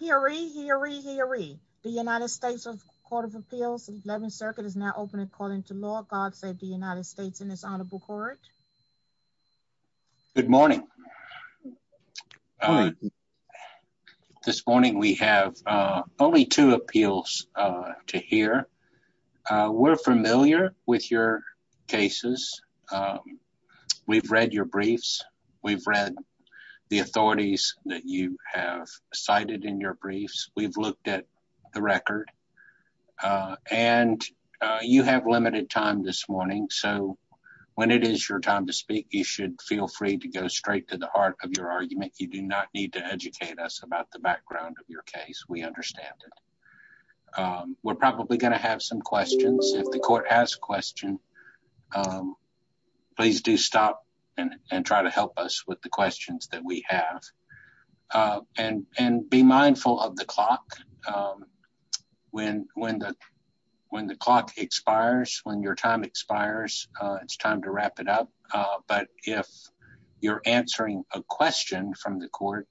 Hear ye, hear ye, hear ye. The United States Court of Appeals, 11th Circuit, is now open according to law. God save the United States and His Honorable Court. Good morning. This morning we have only two appeals to hear. We're familiar with your cases. We've read your briefs. We've read the authorities that you have cited in your briefs. We've looked at the record. And you have limited time this morning, so when it is your time to speak, you should feel free to go straight to the heart of your argument. You do not need to educate us about the background of your case. We understand it. We're probably going to have some questions. If the court has a question, please do stop and try to help us with the questions that we have. And be mindful of the clock. When the clock expires, when your time expires, it's time to wrap it up. But if you're answering a question from the court,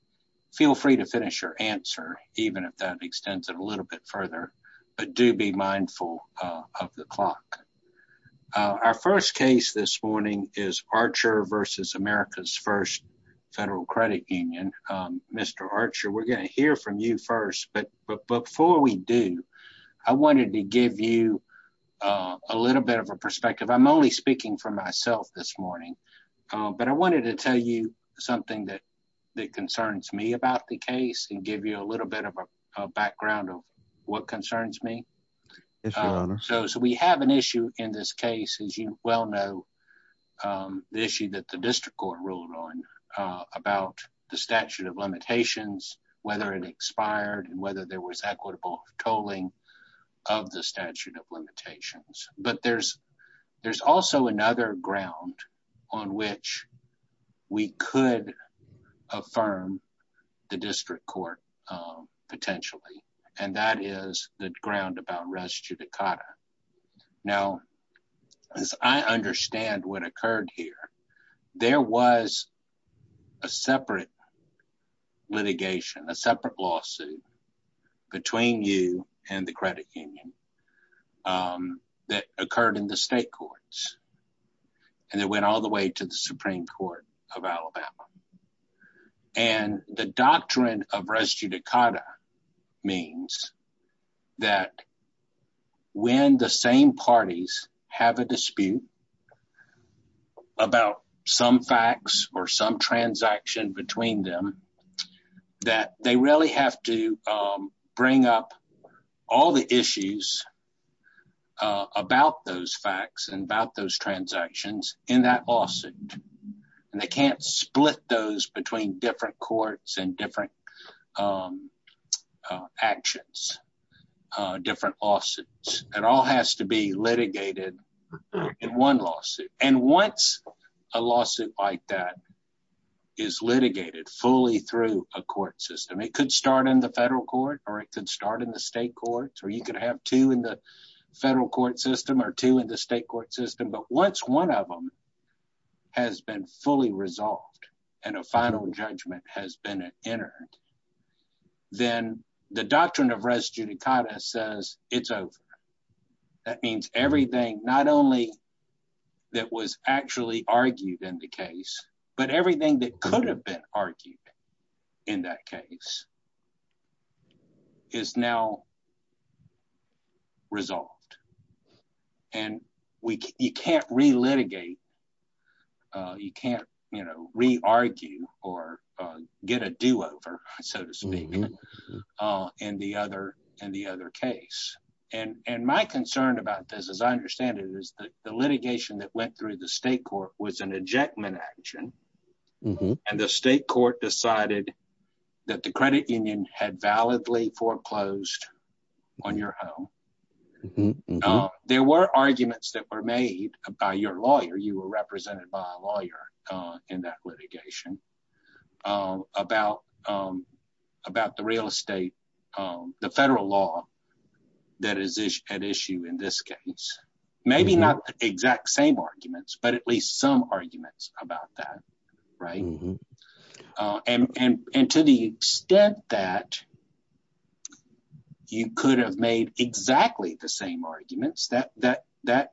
feel free to finish your answer, even if that extends it a little bit further. But do be mindful of the clock. Our first case this morning is Archer v. America's First Federal Credit Union. Mr. Archer, we're going to hear from you first. But before we do, I wanted to give you a little bit of a perspective. I'm only speaking for myself this morning. But I wanted to tell you something that concerns me about the case and give you a little bit of a background of what concerns me. So we have an issue in this case, as you well know, the issue that the district court ruled on about the statute of limitations, whether it expired and whether there was equitable tolling of the statute of limitations. But there's also another ground on which we could affirm the district court potentially. And that is the ground about res judicata. Now, as I understand what occurred here, there was a separate litigation, a separate lawsuit between you and the credit union that occurred in the state courts. And it went all the way to the Supreme Court of Alabama. And the doctrine of res judicata means that when the same parties have a dispute about some facts or some transaction between them, that they really have to bring up all the issues about those facts and about those transactions in that lawsuit. And they can't split those between different courts and different actions, different lawsuits. It all has to be litigated in one lawsuit. And once a lawsuit like that is litigated fully through a court system, it could start in the federal court, or it could start in the state courts, or you could have two in the federal court system or two in the state court system. But once one of them has been fully resolved, and a final judgment has been entered, then the doctrine of res judicata says it's over. That means everything not only that was actually argued in the case, but everything that could have been argued in that case is now resolved. And you can't re-litigate. You can't, you know, re-argue or get a do-over, so to speak, in the other case. And my concern about this, as I understand it, is that the litigation that went through the state court was an ejectment action. And the state court decided that the credit union had validly foreclosed on your home. There were arguments that were made by your lawyer, you were represented by a lawyer in that litigation, about the real estate, the federal law that is at issue in this case. Maybe not exact same arguments, but at least some arguments about that, right? And to the extent that you could have made exactly the same arguments, that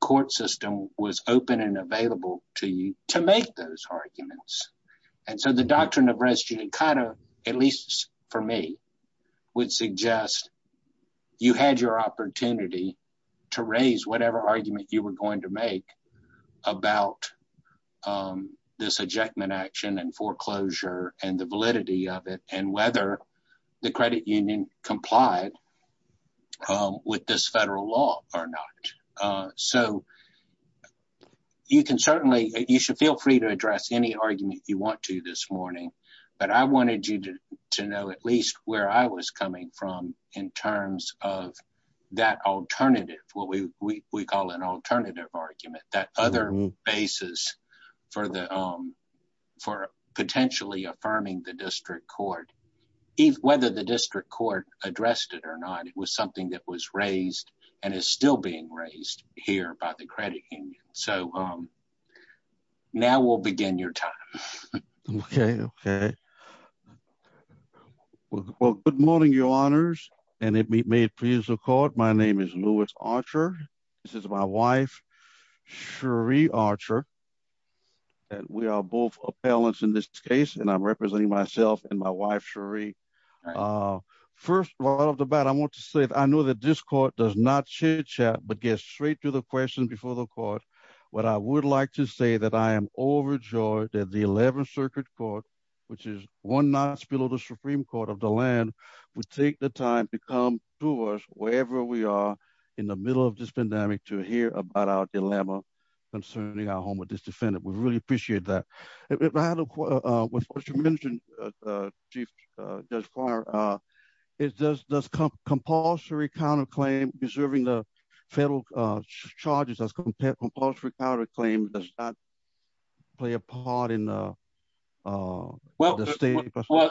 court system was open and available to you to make those arguments. And so the doctrine of res judicata, at least for me, would suggest you had your opportunity to raise whatever argument you were going to make about this ejectment action and foreclosure and the validity of it, and whether the credit union complied with this federal law or not. So you can certainly, you should feel free to address any argument you want to this morning, but I wanted you to know at least where I was coming from in terms of that alternative, what we call an alternative argument, that other basis for potentially affirming the district court. If whether the district court addressed it or not, it was something that was raised and is still being raised here by the credit union. So now we'll begin your time. Okay. Okay. Well, good morning, your honors, and it may please the court. My name is Louis Archer. This is my wife, Sheree Archer, and we are both appellants in this case, and I'm representing myself and my wife, Sheree. First of all, out of the bat, I want to say, I know that this court does not chitchat, but gets straight to the question before the court. What I would like to say that I am overjoyed that the 11th Circuit Court, which is one notch below the Supreme Court of the land, would take the time to come to us wherever we are in the middle of this pandemic to hear about our dilemma concerning our home with this defendant. We really appreciate that. With what you mentioned, Chief Judge Carter, does compulsory counterclaim preserving the federal charges as compared to compulsory counterclaim does not play a part in the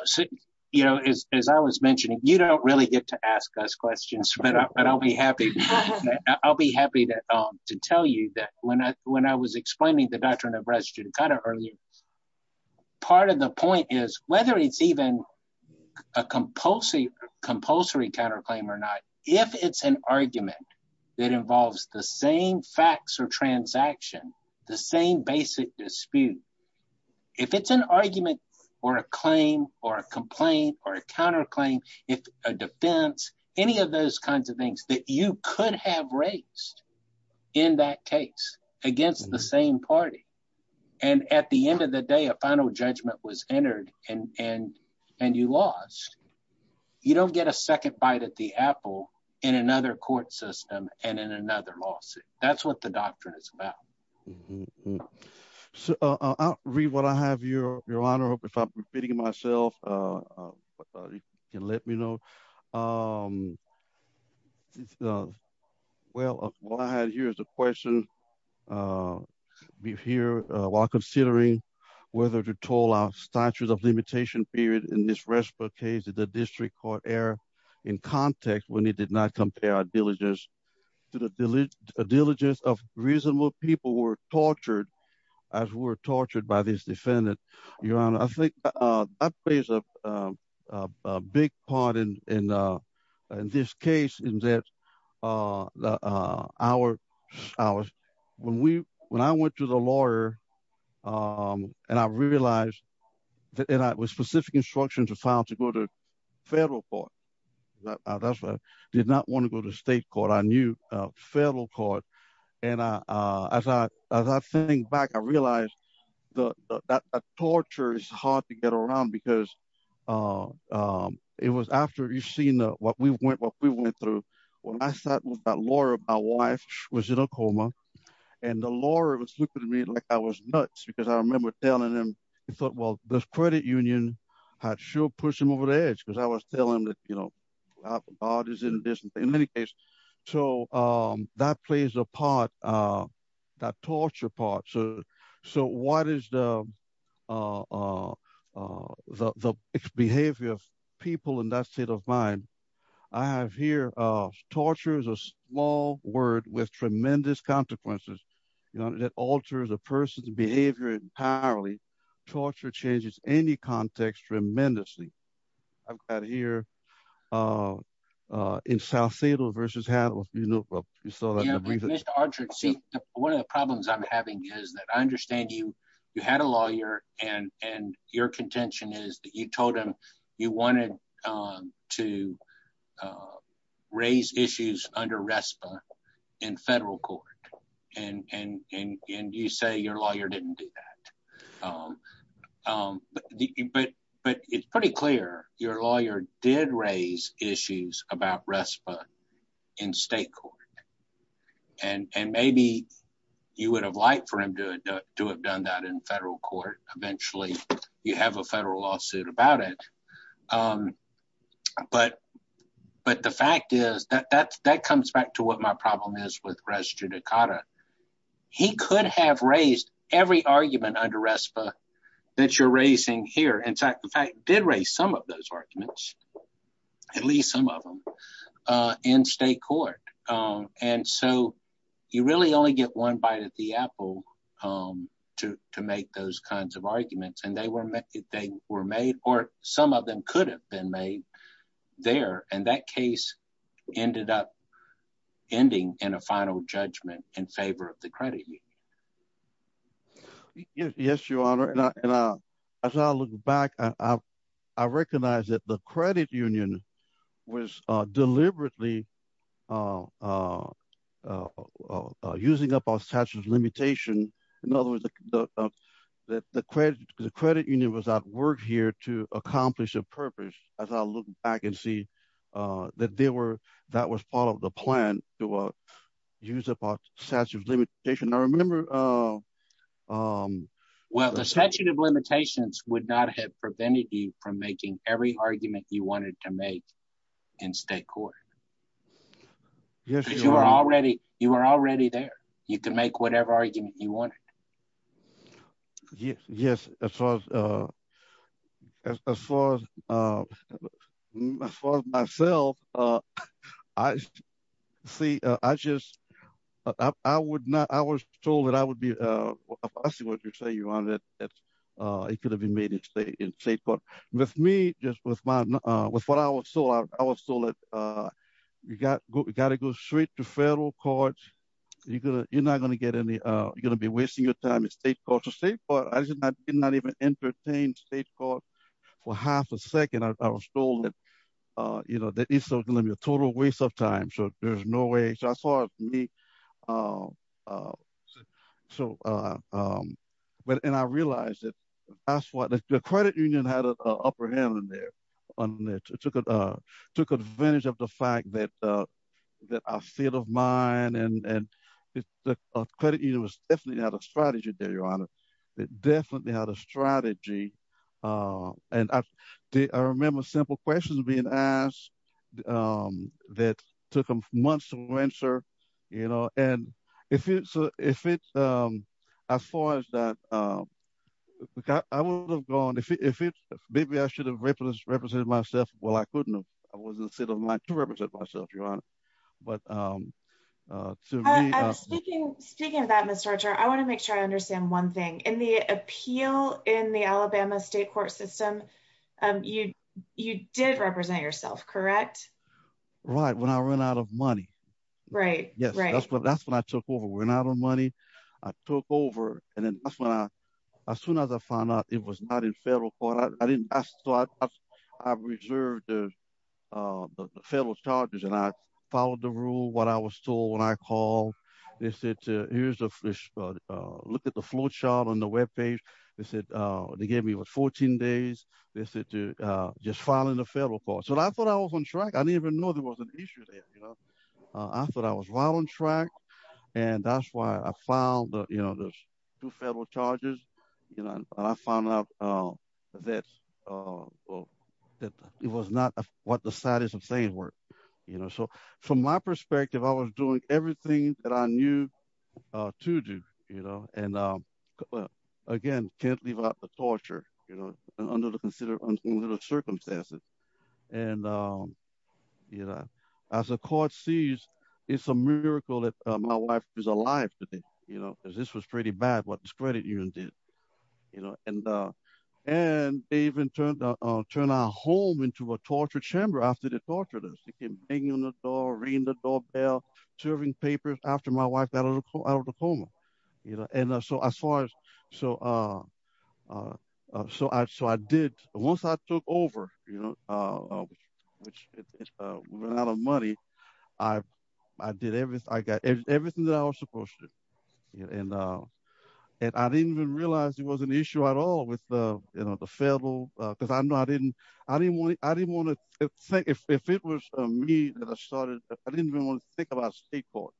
state? You know, as I was mentioning, you don't really get to ask us questions, but I'll be happy. I'll be happy to tell you that when I was explaining the doctrine of res judicata earlier, part of the point is whether it's even a compulsory counterclaim or not, if it's an argument that involves the same facts or transaction, the same basic dispute, if it's an argument or a claim or a complaint or a counterclaim, if a defense, any of those kinds of things that you could have raised in that case against the same party, and at the end of the day, a final judgment was entered and you lost, you don't get a second bite at the apple in another court system and in another lawsuit. That's what the doctrine is about. Mm-hmm. So I'll read what I have, Your Honor, if I'm repeating myself, if you can let me know. Well, what I have here is a question. We're here while considering whether to toll our statutes of limitation period in this restful case of the district court error in context when it did not compare our diligence to the diligence of reasonable people who were tortured by this defendant. Your Honor, I think that plays a big part in this case in that when I went to the lawyer and I realized that specific instructions were found to go to did not want to go to state court, I knew federal court. And as I think back, I realized that torture is hard to get around because it was after you've seen what we went through, when I sat with that lawyer, my wife was in a coma and the lawyer was looking at me like I was nuts because I remember telling him, he thought, well, this credit union had sure pushed him over the you know, God is in this. In any case, so that plays a part, that torture part. So what is the behavior of people in that state of mind? I have here, torture is a small word with tremendous consequences that alters a person's behavior entirely. Torture changes any context tremendously. I've got here in South Seattle versus how you saw that. One of the problems I'm having is that I understand you had a lawyer and your contention is that you told him you wanted to raise issues under RESPA in federal court and you say your lawyer didn't do that. But it's pretty clear your lawyer did raise issues about RESPA in state court. And maybe you would have liked for him to have done that in federal court. Eventually, you have a federal lawsuit about it. But the fact is that comes back to what my problem is with argument under RESPA that you're raising here. In fact, the fact did raise some of those arguments, at least some of them in state court. And so you really only get one bite at the apple to make those kinds of arguments. And they were made or some of them could have been made there. And that case ended up ending in a final judgment in favor of the credit union. Yes, your honor. And as I look back, I recognize that the credit union was deliberately using up our statute of limitation. In other words, the credit union was at work here to accomplish a purpose. As I look back and see that that was part of the plan to use up our limitation. I remember. Well, the statute of limitations would not have prevented you from making every argument you wanted to make in state court. Yes, you are already you are already there. You can make whatever argument you want. Yes, yes. As far as as far as myself, I see. I just I would not I was told that I would be I see what you're saying, your honor, that it could have been made in state in state. But with me, just with my with what I was told, I was told that you got to go straight to federal court. You're going to you're not going to get any you're going to be wasting your time at state court to state court. I did not even entertain state court for half a second. I was told that, you know, that is going to be a total waste of time. So there's no way I saw me. So but and I realized that that's what the credit union had an upper hand in there. It took it took advantage of the fact that that I feel of mine and the credit union was definitely out of strategy there, your honor. It definitely had a strategy. And I remember simple questions being asked that took months to answer, you know, and if it's if it's as far as that, I would have gone if it's maybe I should have represented myself. Well, I couldn't. I wasn't sitting like to represent myself, your honor. But speaking speaking of that, Mr. Archer, I want to make sure I understand one thing in the appeal in the Alabama state court system. You you did represent yourself, correct? Right. When I ran out of money. Right. Yes. That's what I took over. We're not on money. I took over. And then that's when I as soon as I found out it was not in federal court, I didn't ask. So I reserved the federal charges and I followed the rule. What I was told when I called, they said, here's a look at the flowchart on the Web page. They said they gave me was 14 days. They said to just file in the federal court. So I thought I was on track. I didn't even know there was an issue there. I thought I was well on track. And that's why I filed the federal charges. I found out that it was not what the status of saying work. So from my perspective, I was doing everything that I knew to do. And again, can't leave out the torture, you know, under the considered circumstances. And, you know, as a court sees, it's a miracle that my wife is alive today, you know, because this was pretty bad, what this credit union did, you know, and and they even turned turn our home into a torture chamber after they tortured us. They came banging on the door, ringing the doorbell, serving papers after my wife got out of the coma, you know, and so as far as so. So I so I did, once I took over, you know, which is a lot of money. I, I did everything I got everything that I was supposed to. And I didn't even realize it was an issue at all with the, you know, the federal because I'm not in. I didn't want it. I didn't want to think if it was me that I started, I didn't even want to think about state court,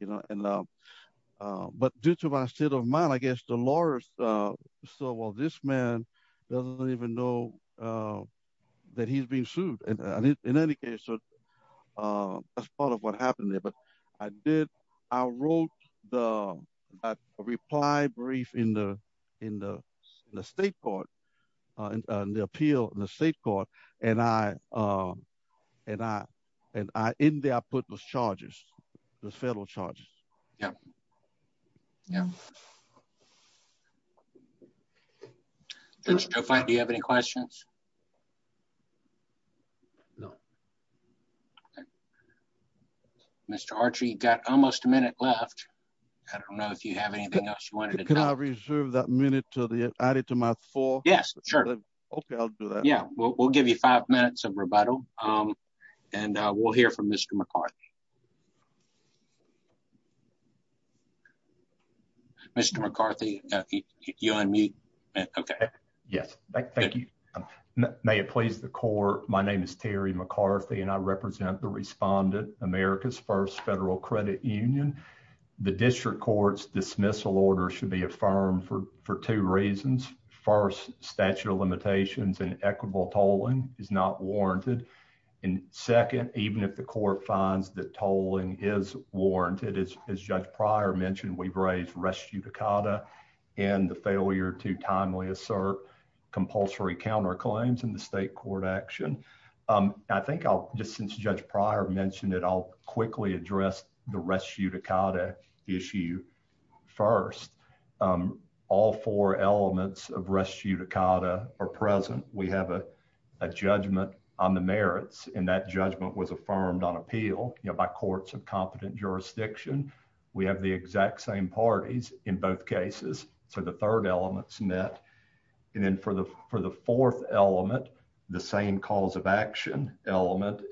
you know, and but due to my state of mind, I guess the lawyers. So well, this man doesn't even know that he's being sued. And in any case, that's part of what happened there. But I did. I wrote the reply brief in the, the state court, and the appeal in the state court. And I, and I, and I in there, I put those charges, the federal charges. Yeah. Yeah. That's fine. Do you have any questions? No. Mr. Archie got almost a minute left. I don't know if you have anything else you can reserve that minute to the added to my four. Yes, sure. Okay, I'll do that. Yeah, we'll give you five minutes of rebuttal. And we'll hear from Mr. McCarthy. Mr. McCarthy, you unmute. Okay. Yes. Thank you. May it please the court. My name is Terry McCarthy, and I represent the respondent America's first federal credit union. The district court's dismissal order should be affirmed for two reasons. First statute of limitations and equitable tolling is not warranted. And second, even if the court finds that tolling is warranted, as Judge Pryor mentioned, we've raised res judicata and the failure to timely assert compulsory counterclaims in the state court action. I think I'll just since Judge Pryor mentioned it, I'll quickly address the res judicata issue. First, all four elements of res judicata are present. We have a judgment on the merits and that judgment was affirmed on appeal by courts of competent jurisdiction. We have the exact same parties in both cases. So the third element's met. And then for the fourth element, the same cause of action element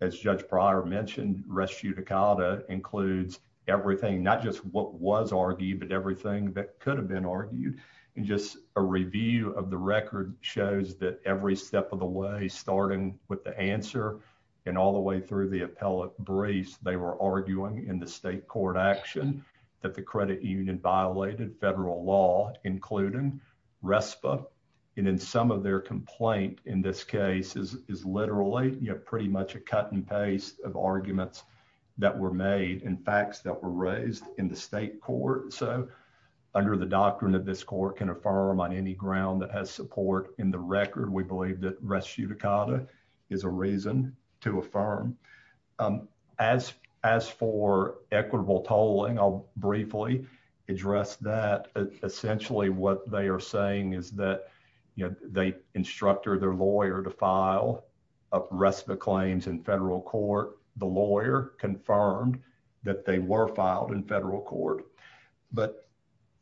as Judge Pryor mentioned, res judicata includes everything, not just what was argued, but everything that could have been argued. And just a review of the record shows that every step of the way, starting with the answer and all the way through the appellate briefs, they were arguing in the RESPA. And then some of their complaint in this case is literally pretty much a cut and paste of arguments that were made and facts that were raised in the state court. So under the doctrine that this court can affirm on any ground that has support in the record, we believe that res judicata is a reason to affirm. As for equitable tolling, I'll briefly address that essentially what they are saying is that they instructed their lawyer to file a RESPA claims in federal court. The lawyer confirmed that they were filed in federal court, but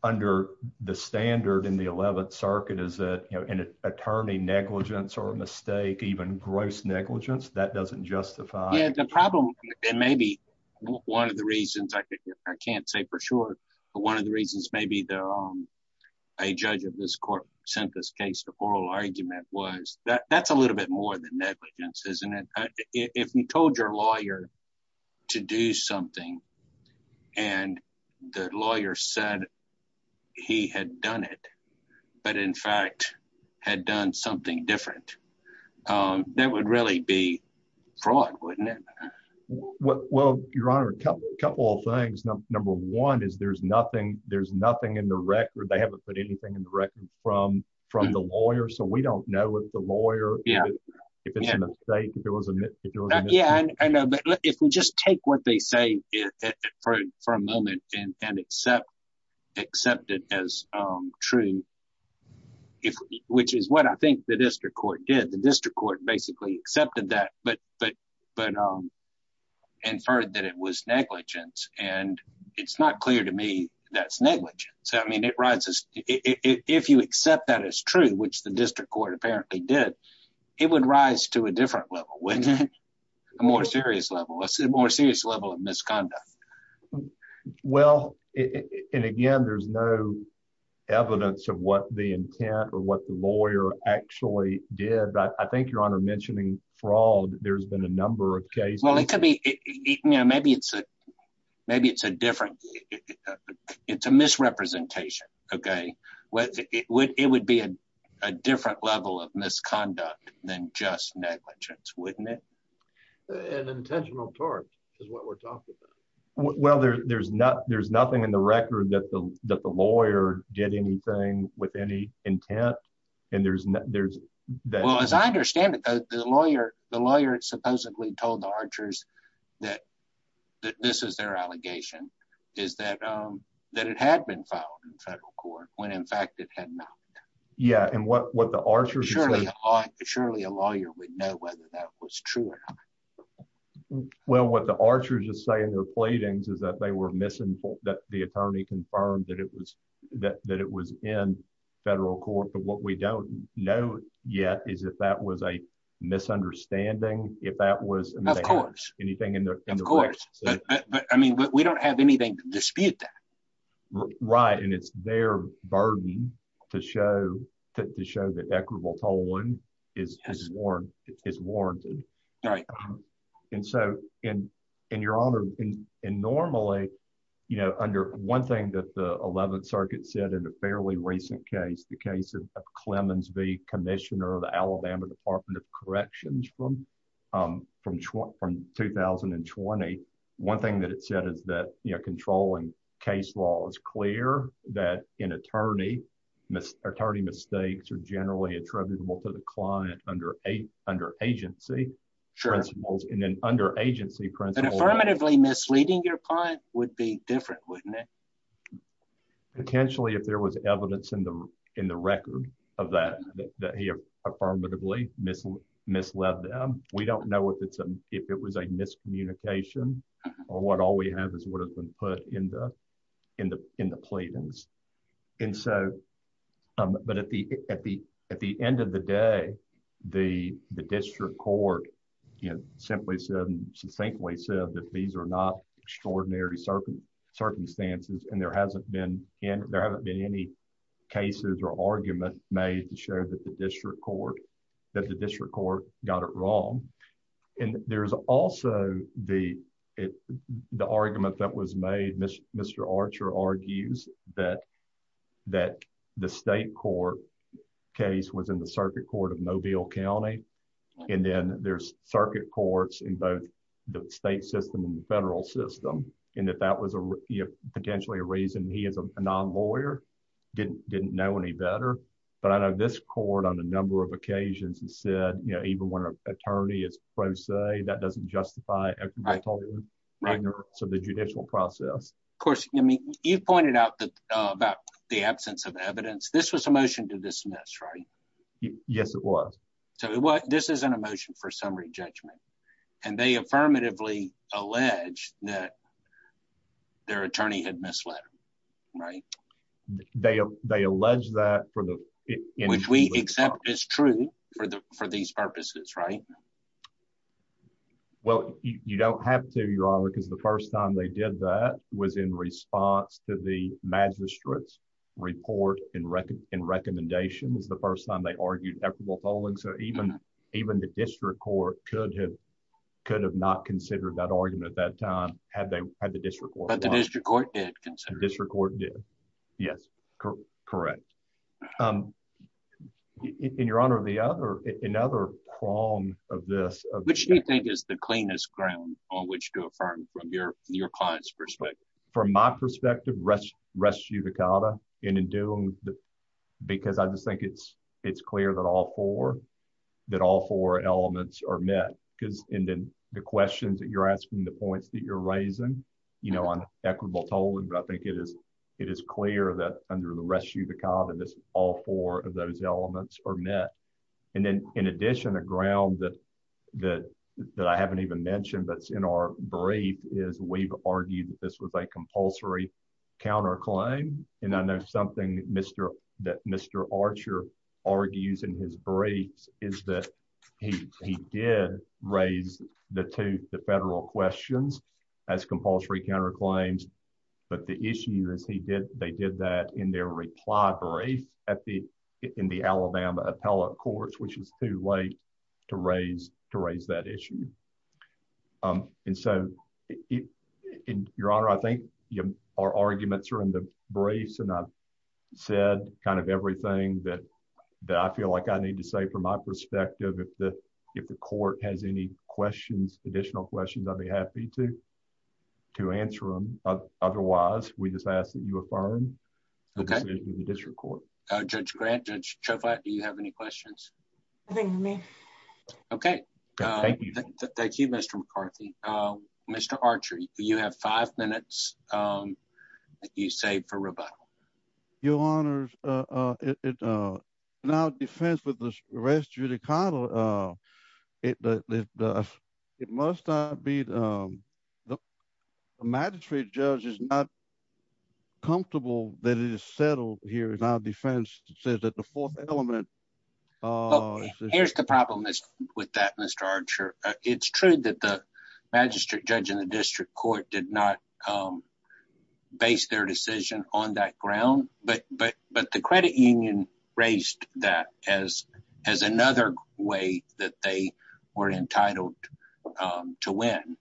under the standard in the 11th circuit is that an attorney negligence or a mistake, even gross negligence, that doesn't justify. Yeah, the problem, and maybe one of the reasons I can't say for sure, but one of the a judge of this court sent this case to oral argument was that that's a little bit more than negligence, isn't it? If you told your lawyer to do something, and the lawyer said he had done it, but in fact, had done something different, that would really be fraud, wouldn't it? Well, Your Honor, a couple of things. Number one is there's nothing, there's nothing in the record from the lawyer, so we don't know if the lawyer, if it's a mistake, if it was a mistake. Yeah, I know, but if we just take what they say for a moment and accept it as true, which is what I think the district court did. The district court basically accepted that, but inferred that it was negligence, and it's not clear to me that's negligence. So, I mean, if you accept that as true, which the district court apparently did, it would rise to a different level, wouldn't it? A more serious level, a more serious level of misconduct. Well, and again, there's no evidence of what the intent or what the lawyer actually did. I think, Your Honor, mentioning fraud, there's been a number of cases. It could be, maybe it's a different, it's a misrepresentation, okay? It would be a different level of misconduct than just negligence, wouldn't it? An intentional charge is what we're talking about. Well, there's nothing in the record that the lawyer did anything with any intent, and there's... Well, as I understand it, the lawyer supposedly told the archers that this is their allegation, is that it had been filed in federal court when, in fact, it had not. Yeah, and what the archers... Surely, a lawyer would know whether that was true or not. Well, what the archers just say in their platings is that they were misinformed, that the attorney confirmed that it was in federal court. But what we don't know yet is if that was a misunderstanding, if that was... Of course. ...anything in the records. Of course. But, I mean, we don't have anything to dispute that. Right, and it's their burden to show that equitable tolling is warranted. Right. And so, and your honor, and normally, under one thing that the 11th Circuit said in a fairly recent case, the case of Clemens v. Commissioner of the Alabama Department of Corrections from 2020, one thing that it said is that controlling case law is clear that an attorney mistakes or attributable to the client under agency principles. And then under agency principles... But affirmatively misleading your client would be different, wouldn't it? Potentially, if there was evidence in the record of that, that he affirmatively misled them. We don't know if it was a miscommunication or what all we have is what has been put in the platings. And so, but at the end of the day, the district court, you know, simply said, succinctly said that these are not extraordinary circumstances, and there hasn't been any cases or argument made to show that the district court got it wrong. And there's also the argument that was made, Mr. Archer argues, that the state court case was in the circuit court of Mobile County. And then there's circuit courts in both the state system and the federal system, and that that was potentially a reason he as a non-lawyer, didn't know any better. But I know this court on a number of occasions and said, you know, even when an attorney is right, so the judicial process, of course, I mean, you pointed out that about the absence of evidence, this was a motion to dismiss, right? Yes, it was. So this is an emotion for summary judgment. And they affirmatively allege that their attorney had misled them, right? They, they allege that for the, which we accept is true for the, for these purposes, right? Well, you don't have to, Your Honor, because the first time they did that was in response to the magistrate's report and recommendation was the first time they argued equitable polling. So even, even the district court could have, could have not considered that argument at that time, had they had the district court. But the district court did consider it. District court did. Yes, correct. And Your Honor, the other, another prong of this. Which do you think is the cleanest ground on which to affirm from your, your client's perspective? From my perspective, rest, rest judicata and in doing that, because I just think it's, it's clear that all four, that all four elements are met because, and then the questions that you're asking, the points that you're raising, you know, on equitable polling, but I think it is, it is clear that under the rest judicata, this, all four of those elements are met. And then in addition, a ground that, that, that I haven't even mentioned, but it's in our brief is we've argued that this was a compulsory counter claim. And I know something that Mr., that Mr. Archer argues in his briefs is that he, he did raise the two, the federal questions as compulsory counter claims. But the issue is he did, they did that in their reply brief at the, in the Alabama appellate courts, which was too late to raise, to raise that issue. And so it, Your Honor, I think our arguments are in the briefs and I've said kind of everything that, that I feel like I need to say from my perspective, if the, if the court has any questions, additional questions, I'd be happy to, to answer them. Otherwise we just ask that you affirm the decision of the district court. Judge Grant, Judge Chauflat, do you have any questions? Nothing to me. Okay. Thank you, Mr. McCarthy. Mr. Archer, you have five minutes that you saved for rebuttal. Your Honors, in our defense with the rest judicata, it, it must not be, the magistrate judge is not comfortable that it is settled here in our defense. It says that the fourth element. Here's the problem with that, Mr. Archer. It's true that the magistrate judge in the district court did not base their decision on that ground, but, but, but the credit union raised that as, as another way that they were entitled to win.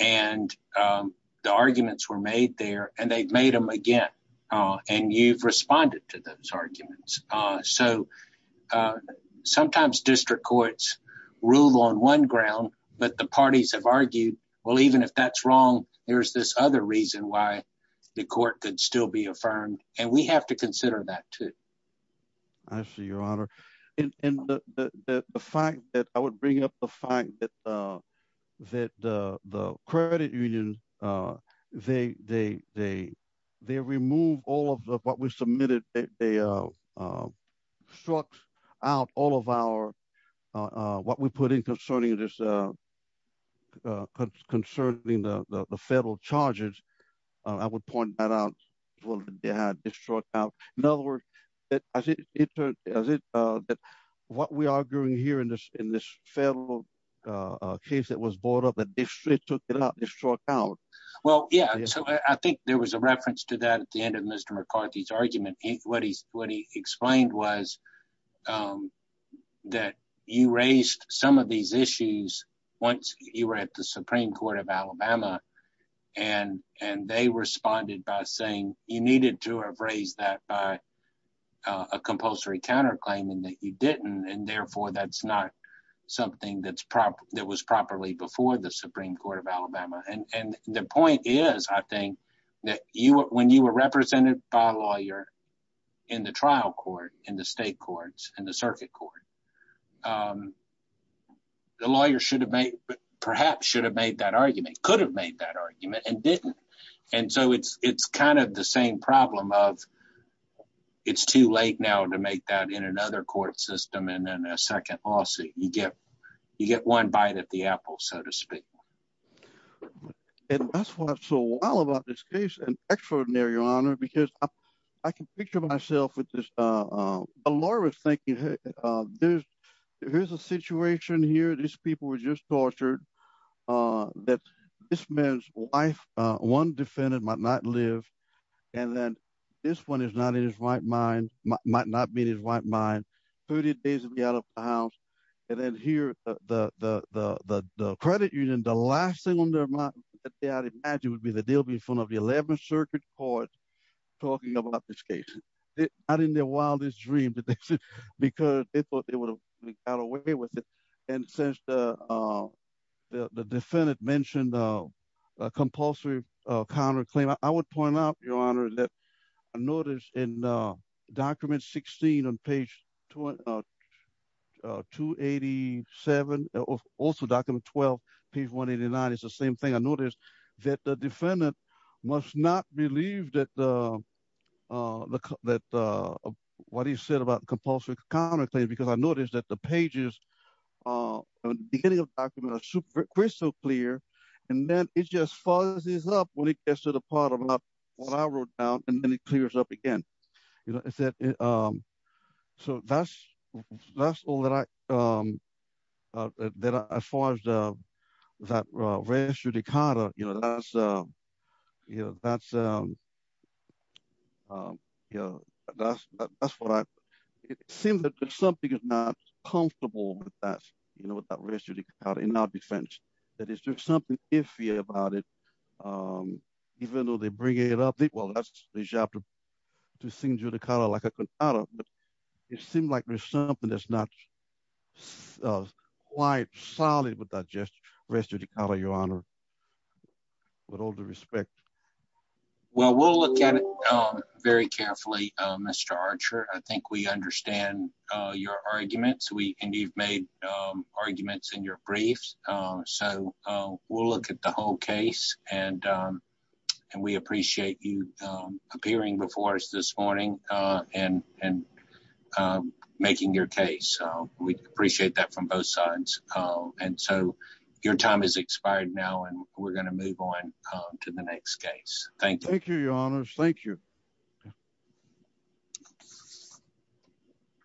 And the arguments were made there and they've made them again. And you've responded to those arguments. So sometimes district courts rule on one ground, but the parties have argued, well, even if that's wrong, there's this other reason why the court could still be affirmed. And we have to consider that too. I see, Your Honor. And, and the, the, the fact that I would bring up the fact that, uh, that, uh, the credit union, uh, they, they, they, they remove all of the, what we submitted, they, uh, uh, struck out all of our, uh, uh, what we put in concerning this, uh, uh, concerning the, the, the federal charges, uh, I would point that out. In other words, as it, as it, uh, that what we are doing here in this, in this federal, uh, case that was brought up, the district took it out, struck out. Well, yeah. So I think there was a reference to that at the end of Mr. McCarthy's argument. What he, what he explained was, um, that you raised some of these issues once you were at the Supreme court of Alabama and, and they responded by saying you needed to have raised that by, uh, a compulsory counter claim and that you didn't. And therefore that's not something that's prop that was properly before the Supreme court of Alabama. And, and the point is, I think that when you were represented by a lawyer in the trial court, in the state courts and the circuit court, um, the lawyer should have made, perhaps should have made that argument, could have made that argument and didn't. And so it's, it's kind of the same problem of it's too late now to make that in another court system. And then a second lawsuit, you get, you get one bite at the apple, so to speak. And that's what's so wild about this case and extraordinary honor, because I can picture myself with this, uh, uh, a lawyer was thinking, Hey, uh, there's, here's a situation here. These people were just tortured, uh, that this man's wife, uh, one defendant might not live. And then this one is not in his right mind, might not be in his right mind, 30 days to be out of the house. And then here, uh, the, the, the, the, the credit union, the last thing on their mind that they had imagined would be the deal would be in front of the 11th circuit court talking about this case, not in their wildest dream, but because they thought they would have got away with it. And since, uh, uh, the, the defendant mentioned, uh, a compulsory counter claim, I would point out your honor that I noticed in, uh, document 16 on page two, uh, two 87, also document 12 page one 89. It's the same thing. I noticed that the defendant must not believe that, uh, uh, that, uh, what he said about compulsory counter claim, because I noticed that the pages, uh, beginning of document are super crystal clear. And then it just fuzzes up when it gets to the part about what I wrote down and then it clears up again. You know, I said, um, so that's, that's all that I, um, uh, that, uh, as far as, uh, that, uh, res judicata, you know, that's, uh, you know, that's, um, um, you know, that's, that's what I, it seems that something is not comfortable with that, you know, with that res judicata in our defense, that it's just something iffy about it. Um, even though they bring it up, well, that's the job to sing judicata like a cantata, but it seemed like there's something that's not quite solid with that just res judicata, your honor, with all the respect. Well, we'll look at it very carefully, Mr. Archer. I think we understand, uh, your arguments. We appreciate you, um, appearing before us this morning, uh, and, and, um, making your case. So we appreciate that from both sides. Um, and so your time is expired now and we're going to move on to the next case. Thank you. Thank you, your honor. Thank you.